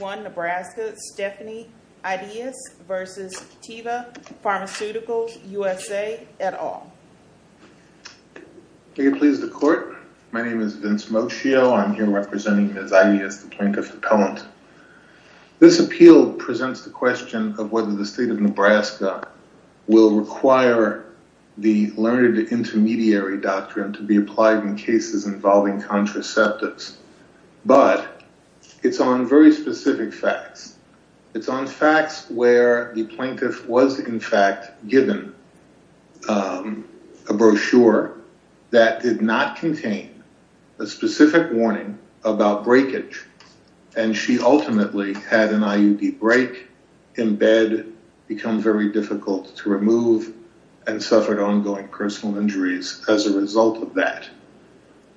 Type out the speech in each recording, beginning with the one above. Nebraska, Stephanie Ideas versus Teva Pharmaceuticals, USA, et al. Are you pleased to court? My name is Vince Moschio. I'm here representing Ms. Ideas, the plaintiff's appellant. This appeal presents the question of whether the state of Nebraska will require the Learned Intermediary Doctrine to be applied in cases involving contraceptives, but it's on very specific facts. It's on facts where the plaintiff was in fact given a brochure that did not contain a specific warning about breakage, and she ultimately had an IUD break in bed, become very difficult to remove, and suffered ongoing personal injuries as a result of that.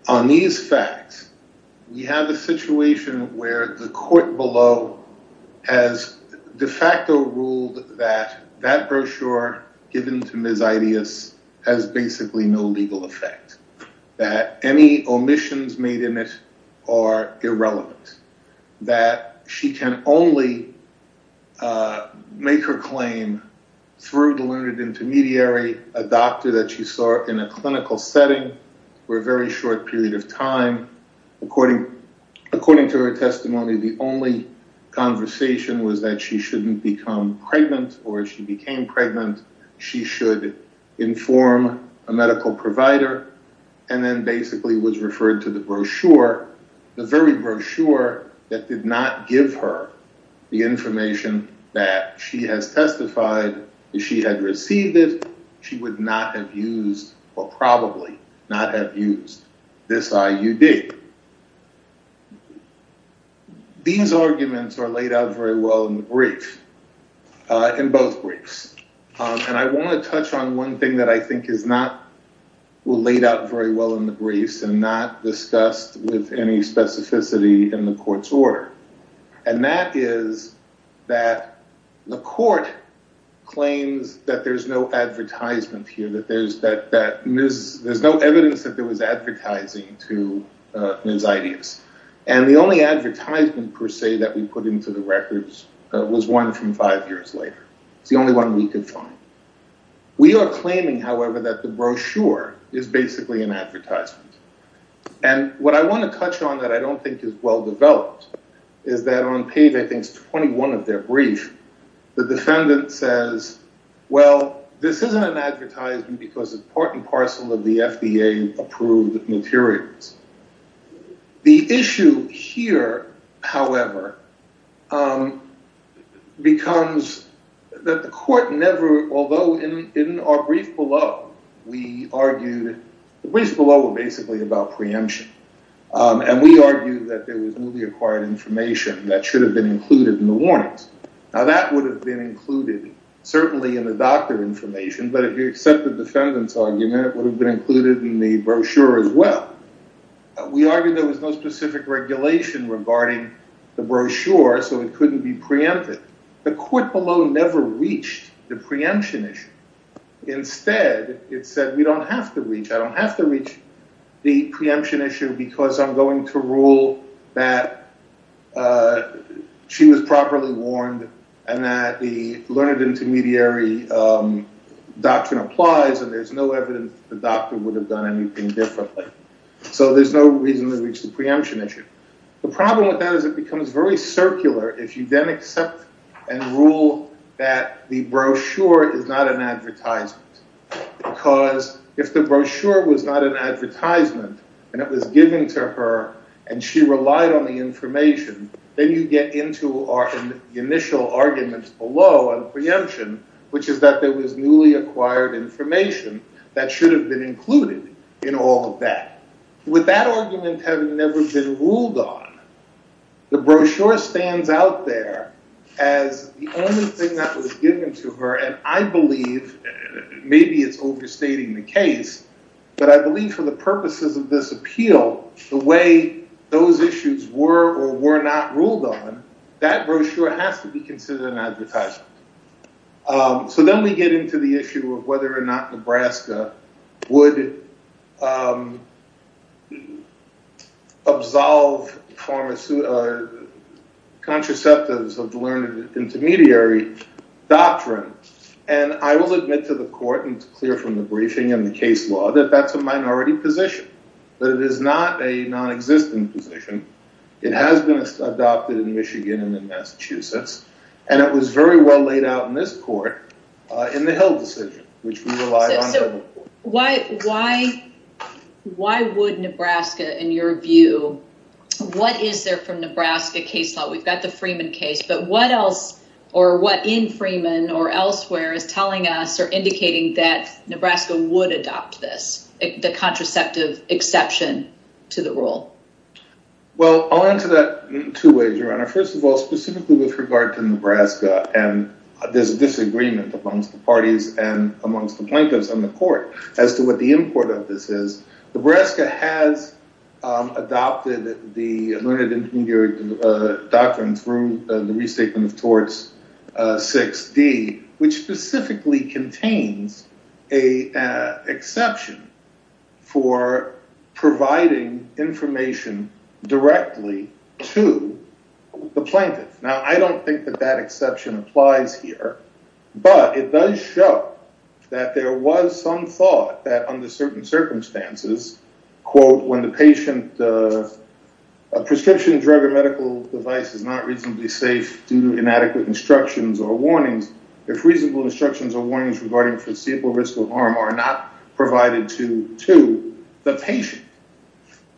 On these facts, we have a situation where the court below has de facto ruled that that brochure given to Ms. Ideas has basically no legal effect, that any omissions made in it are irrelevant, that she can only make her claim through the Learned Intermediary, a doctor that she saw in a clinical setting for a very short period of time. According to her testimony, the only conversation was that she shouldn't become pregnant, or if she became pregnant, she should inform a medical provider, and then basically was referred to the brochure, the very brochure that did not give her the information that she has she would not have used or probably not have used this IUD. These arguments are laid out very well in the brief, in both briefs, and I want to touch on one thing that I think is not laid out very well in the briefs and not discussed with any specificity in the court's order, and that is that the court claims that there's no advertisement here, that there's no evidence that there was advertising to Ms. Ideas, and the only advertisement, per se, that we put into the records was one from five years later. It's the only one we could find. We are claiming, however, that the brochure is basically an advertisement, and what I want to touch on that I don't think is well this isn't an advertisement because it's part and parcel of the FDA-approved materials. The issue here, however, becomes that the court never, although in our brief below, we argued, the briefs below were basically about preemption, and we argued that there was newly acquired information that should have been included in the warnings. Now that would have been included certainly in the doctor information, but if you accept the defendant's argument, it would have been included in the brochure as well. We argued there was no specific regulation regarding the brochure, so it couldn't be preempted. The court below never reached the preemption issue. Instead, it said, we don't have to reach, I don't have to reach the preemption issue because I'm going to rule that she was properly warned and that the learned intermediary doctrine applies and there's no evidence that the doctor would have done anything differently. So there's no reason to reach the preemption issue. The problem with that is it becomes very circular if you then accept and rule that the brochure is not an advertisement because if the brochure was not an advertisement and it was given to her and she relied on the information, then you get into our initial arguments below on preemption, which is that there was newly acquired information that should have been included in all of that. With that argument having never been ruled on, the brochure stands out there as the only thing that was given to her and I believe, maybe it's overstating the case, but I believe for the purposes of this appeal, the way those issues were or were not ruled on, that brochure has to be considered an advertisement. So then we get into the issue of whether or not Nebraska would absolve contraceptives of the learned intermediary doctrine and I will admit to the court and it's clear from the briefing and the case law that that's a minority position. That it is not a non-existent position. It has been adopted in Michigan and in Massachusetts and it was very well laid out in this court in the Hill decision, which we relied on. So why would Nebraska, in your view, what is there from Nebraska case law? We've got the Freeman case, but what else or what in Freeman or elsewhere is telling us or indicating that Nebraska would adopt this, the contraceptive exception to the rule? Well, I'll answer that two ways, Your Honor. First of all, specifically with regard to Nebraska and there's a disagreement amongst the parties and amongst the plaintiffs and the court as to what the import of this is. Nebraska has adopted the learned intermediary doctrine through the restatement of torts 6D, which specifically contains an exception for providing information directly to the plaintiff. Now, I don't think that that exception applies here, but it does show that there was some circumstances, quote, when the patient, a prescription drug or medical device is not reasonably safe due to inadequate instructions or warnings. If reasonable instructions or warnings regarding foreseeable risk of harm are not provided to the patient,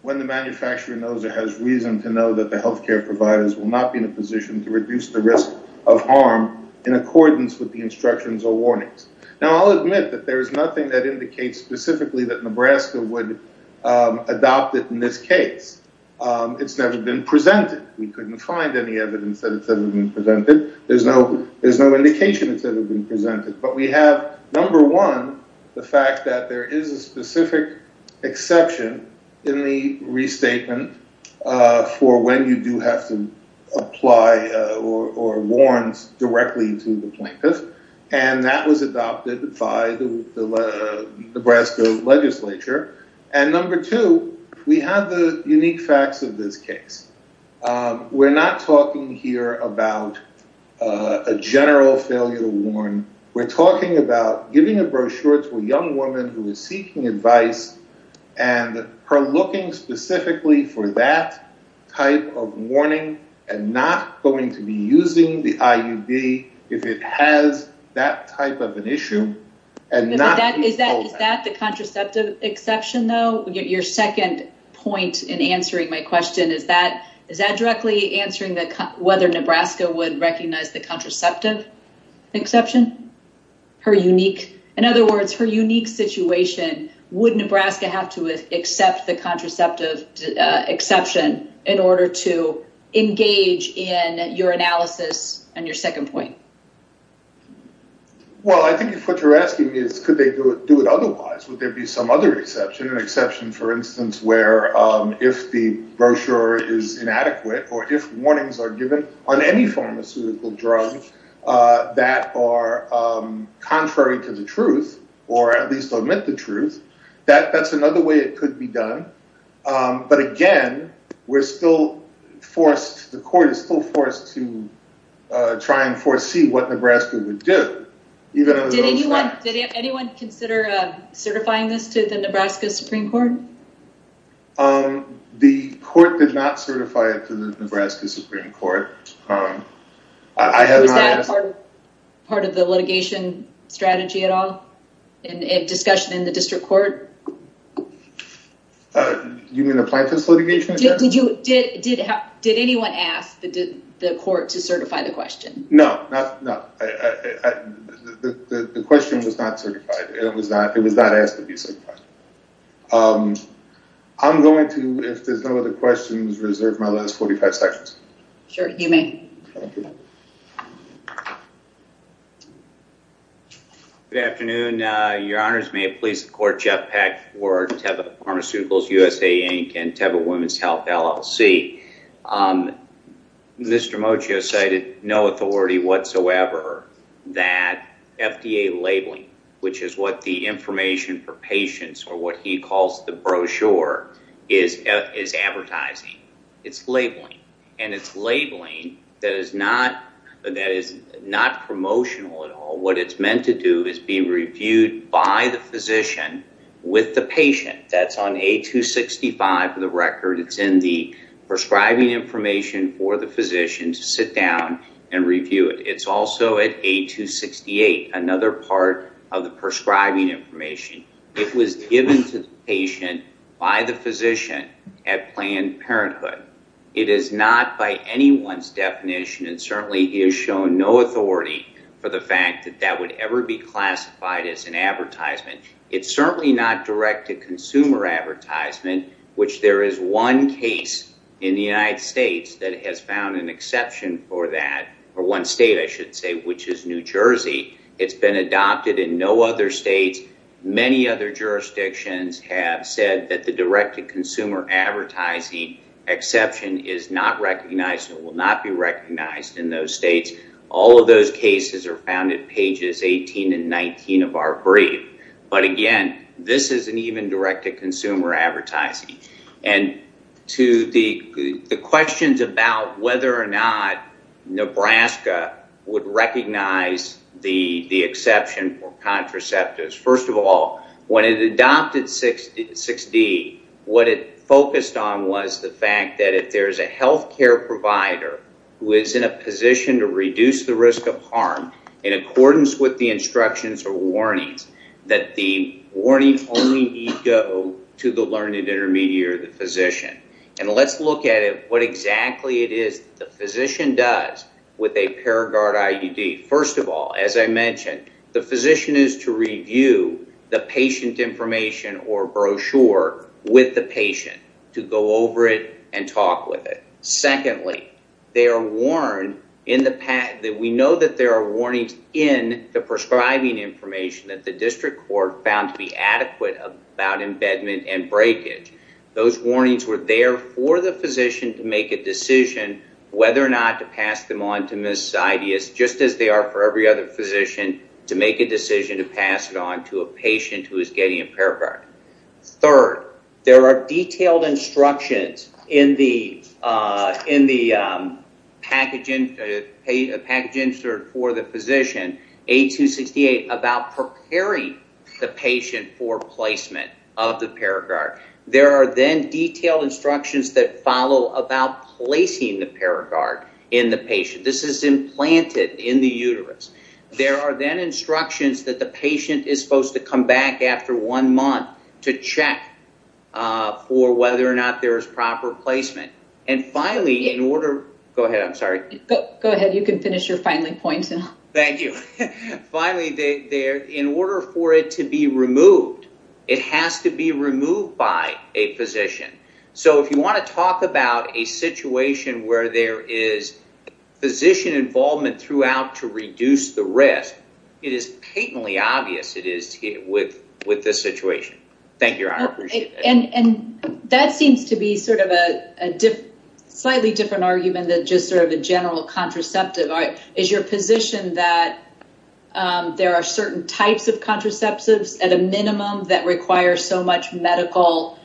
when the manufacturer knows or has reason to know that the healthcare providers will not be in a position to reduce the risk of harm in accordance with the instructions or warnings. Now, I'll admit that there's nothing that indicates specifically that Nebraska would adopt it in this case. It's never been presented. We couldn't find any evidence that it's ever been presented. There's no indication it's ever been presented. But we have, number one, the fact that there is a specific exception in the restatement for when you do have to apply or warrant directly to the plaintiff. And that was adopted by the Nebraska legislature. And number two, we have the unique facts of this case. We're not talking here about a general failure to warrant. We're talking about giving a brochure to a young woman who is seeking advice and her looking specifically for that type of warning and not going to be using the IUD if it has that type of an issue. Is that the contraceptive exception, though? Your second point in answering my question, is that directly answering whether Nebraska would recognize the contraceptive exception? In other words, her unique situation, would Nebraska have to accept the contraceptive exception in order to engage in your analysis on your second point? Well, I think what you're asking is, could they do it otherwise? Would there be some other exception? An exception, for instance, where if the brochure is inadequate or if warnings are given on any pharmaceutical drug that are contrary to the truth, or at least omit the truth, that's another way it could be done. But again, we're still forced, the court is still forced to try and foresee what Nebraska would do. Did anyone consider certifying this to the Nebraska Supreme Court? The court did not certify it to the Nebraska Supreme Court. Was that part of the litigation strategy at all? A discussion in the district court? You mean the plaintiff's litigation? Did anyone ask the court to certify the question? No. The question was not certified. It was not asked to be certified. I'm going to, if there's no other questions, reserve my last 45 seconds. Sure, you may. Thank you. Good afternoon. Your Honors, may it please the court, Jeff Peck for Teva Pharmaceuticals, USA, Inc. and Teva Women's Health, LLC. Mr. Mocho cited no authority whatsoever that FDA labeling, which is what the information for patients, or what he calls the brochure, is advertising. It's labeling. And it's labeling that is not promotional at all. What it's meant to do is be reviewed by the physician with the patient. That's on A265 for the record. It's in the prescribing information for the physician to sit down and review it. It's also at A268, another part of the prescribing information. It was given to the patient by the physician at Planned Parenthood. It is not by anyone's definition, and certainly he has shown no authority for the fact that that would ever be classified as an advertisement. It's certainly not direct-to-consumer advertisement, which there is one case in the United States that has found an exception for that, or one state, I should say, which is New Jersey. It's been adopted in no other state. Many other jurisdictions have said that the direct-to-consumer advertising exception is not recognized and will not be recognized in those states. All of those cases are found in pages 18 and 19 of our brief. But again, this isn't even direct-to-consumer advertising. And to the questions about whether or not Nebraska would recognize the exception for contraceptives, first of all, when it adopted 6D, what it focused on was the fact that there's a healthcare provider who is in a position to reduce the risk of harm in accordance with the instructions or warnings, that the warning only need go to the learned intermediary, the physician. And let's look at what exactly it is the physician does with a Paraguard IUD. First of all, as I mentioned, the physician is to review the patient information or brochure with the patient to go over it and talk with it. Secondly, we know that there are warnings in the prescribing information that the district court found to be adequate about embedment and breakage. Those warnings were there for the physician to make a decision whether or not to pass them on to Ms. Zideus, just as they are for every other physician, to make a decision to pass it on to a patient who is getting a Paraguard. Third, there are detailed instructions in the package insert for the physician, A268, about preparing the patient for placement of the Paraguard. There are then detailed instructions that follow about placing the Paraguard in the patient. This is implanted in the uterus. There are then instructions that the patient is supposed to come back after one month to check for whether or not there is proper placement. And finally, in order... Go ahead. I'm sorry. Go ahead. You can finish your finally point. Thank you. Finally, in order for it to be removed, it has to be removed by a physician. So if you want to talk about a situation where there is physician involvement throughout to reduce the risk, it is patently obvious it is with this situation. Thank you, Your Honor. I appreciate that. And that seems to be sort of a slightly different argument than just sort of a general contraceptive. Is your position that there are certain types of contraceptives, at a minimum, that require so much medical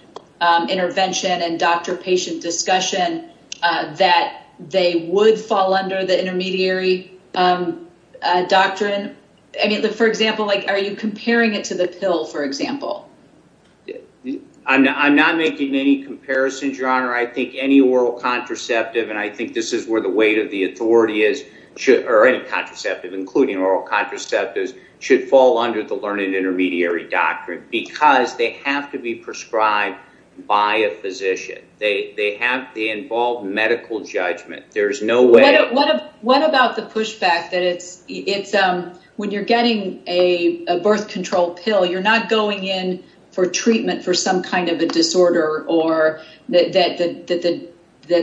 intervention and doctor-patient discussion that they would fall under the learned intermediary doctrine? For example, are you comparing it to the pill, for example? I'm not making any comparison, Your Honor. I think any oral contraceptive, and I think this is where the weight of the authority is, or any contraceptive, including oral contraceptives, should fall under the learned intermediary doctrine because they have to be prescribed by a physician. They involve medical judgment. What about the pushback that when you're getting a birth control pill, you're not going in for treatment for some kind of a disorder that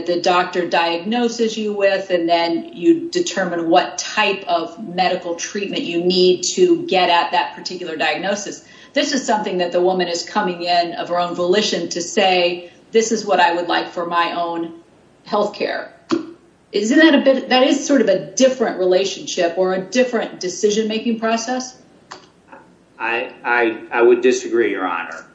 the doctor diagnoses you with, and then you determine what type of medical treatment you need to get at that particular diagnosis. This is something that the woman is coming in of her own volition to say, this is what I would like for my own health care. That is sort of a different relationship or a different decision-making process. I would disagree, Your Honor.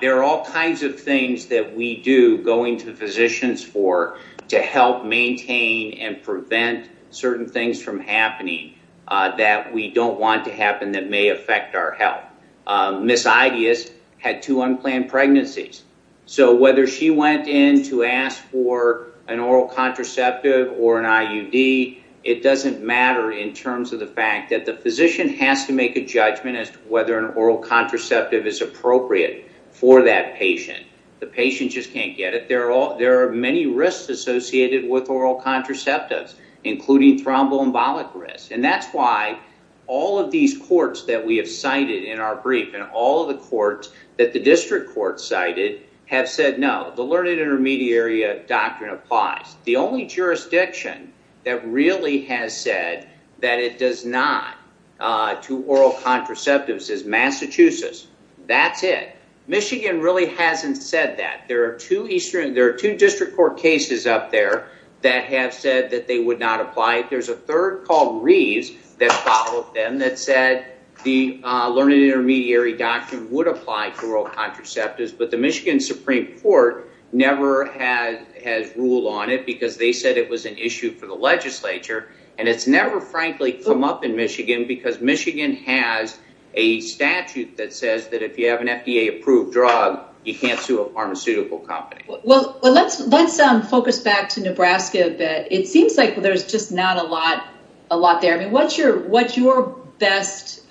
There are all kinds of things that we do going to physicians for to help maintain and prevent certain things from happening that we don't want to happen that may affect our health. Ms. Ideas had two unplanned pregnancies. So whether she went in to ask for an oral contraceptive or an IUD, it doesn't matter in terms of the fact that the physician has to make a judgment as to whether an oral contraceptive is appropriate for that patient. The patient just can't get it. There are many risks associated with oral contraceptives, including thromboembolic risk. That's why all of these courts that we have cited in our brief, and all of the courts that the district courts cited, have said no. The learned intermediary doctrine applies. The only jurisdiction that really has said that it does not to oral contraceptives is Massachusetts. That's it. Michigan really hasn't said that. There are two district court cases up there that have said that they would not apply. There's a third called Reeves that followed them that said the learned intermediary doctrine would apply to oral contraceptives, but the Michigan Supreme Court never has ruled on it because they said it was an issue for the legislature. It's never frankly come up in Michigan because Michigan has a statute that says that if you have an FDA approved drug, you can't sue a pharmaceutical company. Let's focus back to Nebraska a bit. It seems like there's just not a lot there. What's your best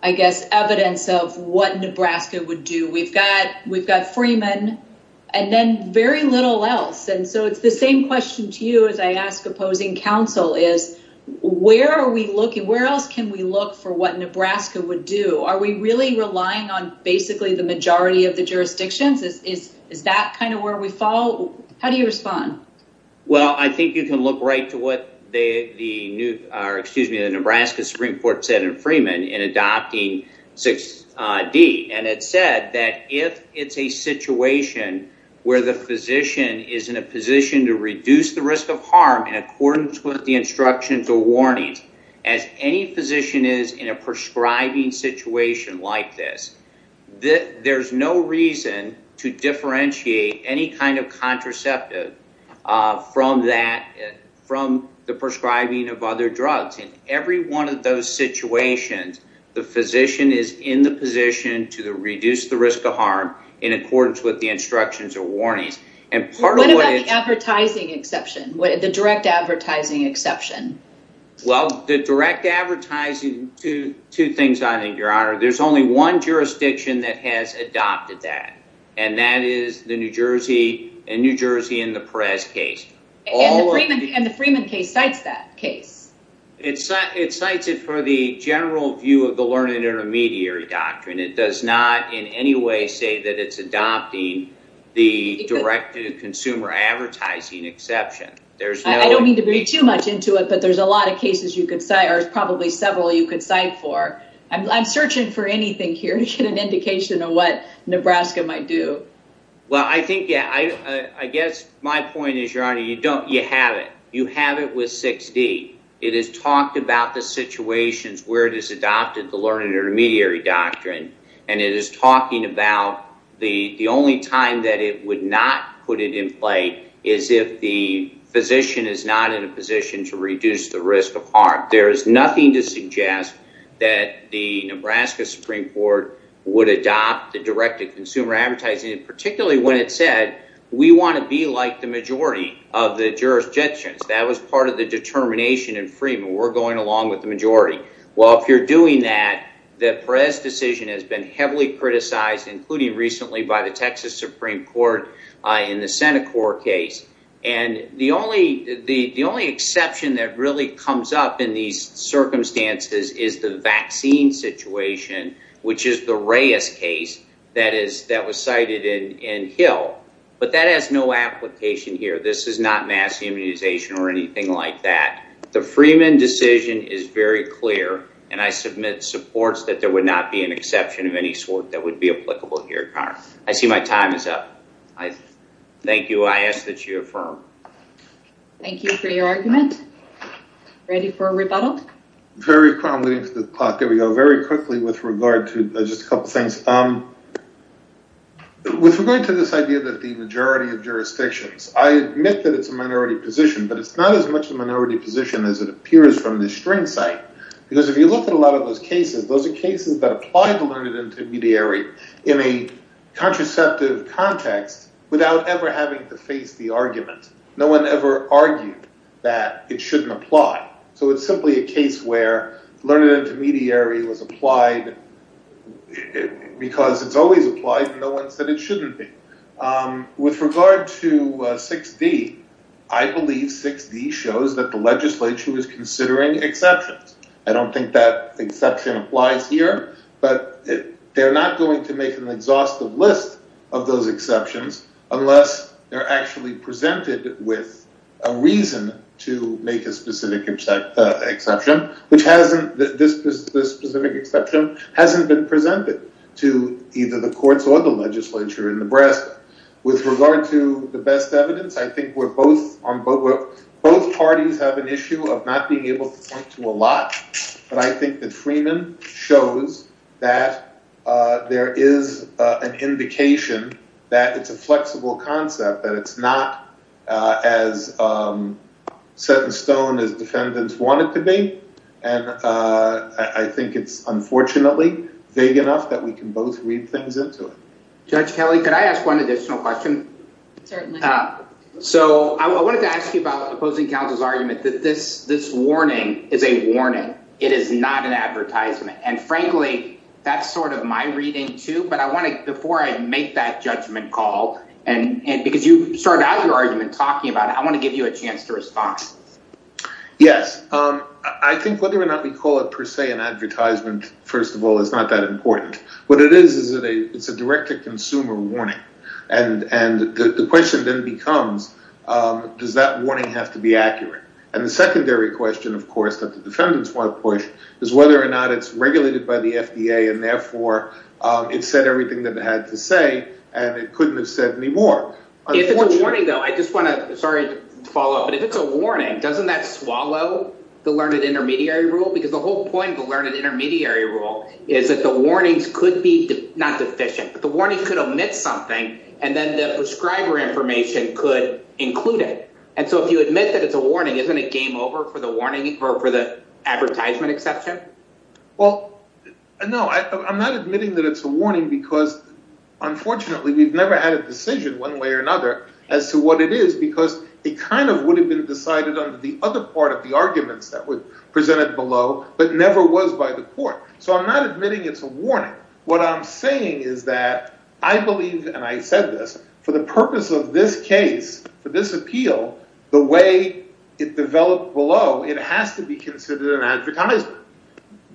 evidence of what Nebraska would do? We've got Freeman and then very little else. It's the same question to you as I ask opposing counsel. Where else can we look for what Nebraska would do? Are we really relying on basically the majority of the jurisdictions? Is that kind of where we fall? How do you respond? I think you can look right to what the Nebraska Supreme Court said in Freeman in adopting 6D. It said that if it's a situation where the physician is in a position to reduce the risk of harm in accordance with the instructions or warnings, as any physician is in a prescribing situation like this, there's no reason to differentiate any kind of contraceptive from the prescribing of other drugs. In every one of those situations, the physician is in the position to reduce the risk of harm in accordance with the instructions or warnings. What about the advertising exception, the direct advertising exception? The direct advertising, there's only one jurisdiction that has adopted that, and that is the New Jersey and New Jersey in the Perez case. The Freeman case cites that case. It cites it for the general view of the learned intermediary doctrine. It does not in any way say that it's adopting the direct to consumer advertising exception. I don't mean to read too much into it, but there's a lot of cases you could cite, or probably several you could cite for. I'm searching for anything here to get an indication of what Nebraska might do. Well, I think, yeah, I guess my point is, Your Honor, you have it. You have it with 6D. It has talked about the situations where it has adopted the learned intermediary doctrine, and it is talking about the only time that it would not put it in play is if the physician is not in a position to reduce the risk of harm. There is nothing to suggest that the Nebraska Supreme Court would adopt the direct to consumer advertising, particularly when it said we want to be like the majority of the jurisdictions. That was part of the determination in Freeman. We're going along with the majority. Well, if you're doing that, the Perez decision has been heavily criticized, including recently by the Texas Supreme Court in the Senate court case. And the only exception that really comes up in these circumstances is the vaccine situation, which is the Reyes case that was cited in Hill. But that has no application here. This is not mass immunization or anything like that. The Freeman decision is very clear, and I submit supports that there would not be an exception of any sort that would be applicable here, Your Honor. I see my time is up. Thank you. I ask that you affirm. Thank you for your argument. Ready for a rebuttal? I'm waiting for the clock. There we go. Very quickly with regard to just a couple things. With regard to this idea that the majority of jurisdictions, I admit that it's a minority position, but it's not as much a minority position as it appears from the string site. Because if you look at a lot of those cases, those are cases that apply to learned intermediary in a contraceptive context without ever having to face the argument. No one ever argued that it shouldn't apply. So it's simply a case where learned intermediary was applied because it's always applied, and no one said it shouldn't be. With regard to 6D, I believe 6D shows that the legislature is considering exceptions. I don't think that exception applies here, but they're not going to make an exhaustive list of those exceptions unless they're actually presented with a reason to make a specific exception, which this specific exception hasn't been presented to either the courts or the legislature in Nebraska. With regard to the best evidence, I think both parties have an issue of not being able to point to a lot, but I think that Freeman shows that there is an indication that it's a flexible concept, that it's not as set in stone as defendants want it to be, and I think it's unfortunately vague enough that we can both read things into it. Judge Kelly, could I ask one additional question? Certainly. So I wanted to ask you about opposing counsel's argument that this warning is a warning. It is not an advertisement. And frankly, that's sort of my reading too, but I want to, before I make that judgment call, because you started out your argument talking about it, I want to give you a chance to respond. Yes. I think whether or not we call it per se an advertisement, first of all, is not that important. What it is is it's a direct-to-consumer warning, and the question then becomes, does that warning have to be accurate? And the secondary question, of course, that the defendants want to push is whether or not it's regulated by the FDA and therefore it said everything that it had to say and it couldn't have said any more. If it's a warning, though, I just want to – sorry to follow up, but if it's a warning, doesn't that swallow the learned intermediary rule? Because the whole point of the learned intermediary rule is that the warnings could be not deficient, but the warning could omit something and then the prescriber information could include it. And so if you admit that it's a warning, isn't it game over for the warning or for the advertisement exception? Well, no, I'm not admitting that it's a warning because, unfortunately, we've never had a decision one way or another as to what it is because it kind of would have been decided under the other part of the arguments that were presented below but never was by the court. So I'm not admitting it's a warning. What I'm saying is that I believe, and I said this, for the purpose of this case, for this appeal, the way it developed below, it has to be considered an advertisement.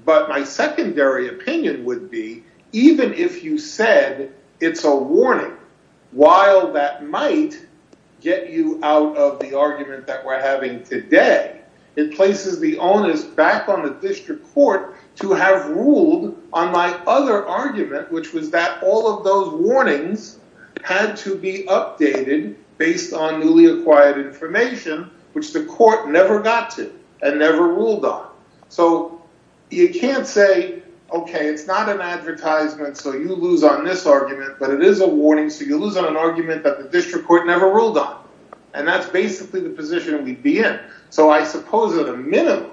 But my secondary opinion would be even if you said it's a warning, while that might get you out of the argument that we're having today, it places the onus back on the district court to have ruled on my other argument, which was that all of those warnings had to be updated based on newly acquired information, which the court never got to and never ruled on. So you can't say, okay, it's not an advertisement, so you lose on this argument, but it is a warning, so you lose on an argument that the district court never ruled on. And that's basically the position we'd be in. So I suppose at a minimum,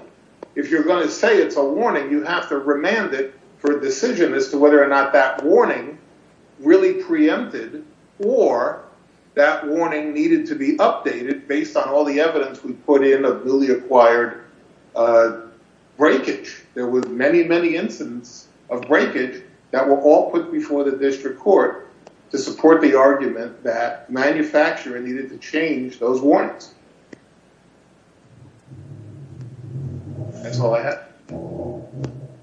if you're going to say it's a warning, you have to remand it for a decision as to whether or not that warning really preempted or that warning needed to be updated based on all the evidence we put in of newly acquired breakage. There were many, many incidents of breakage that were all put before the district court to support the argument that manufacturer needed to change those warnings. That's all I have.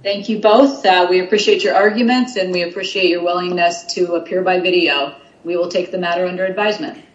Thank you both. We appreciate your arguments, and we appreciate your willingness to appear by video. We will take the matter under advisement.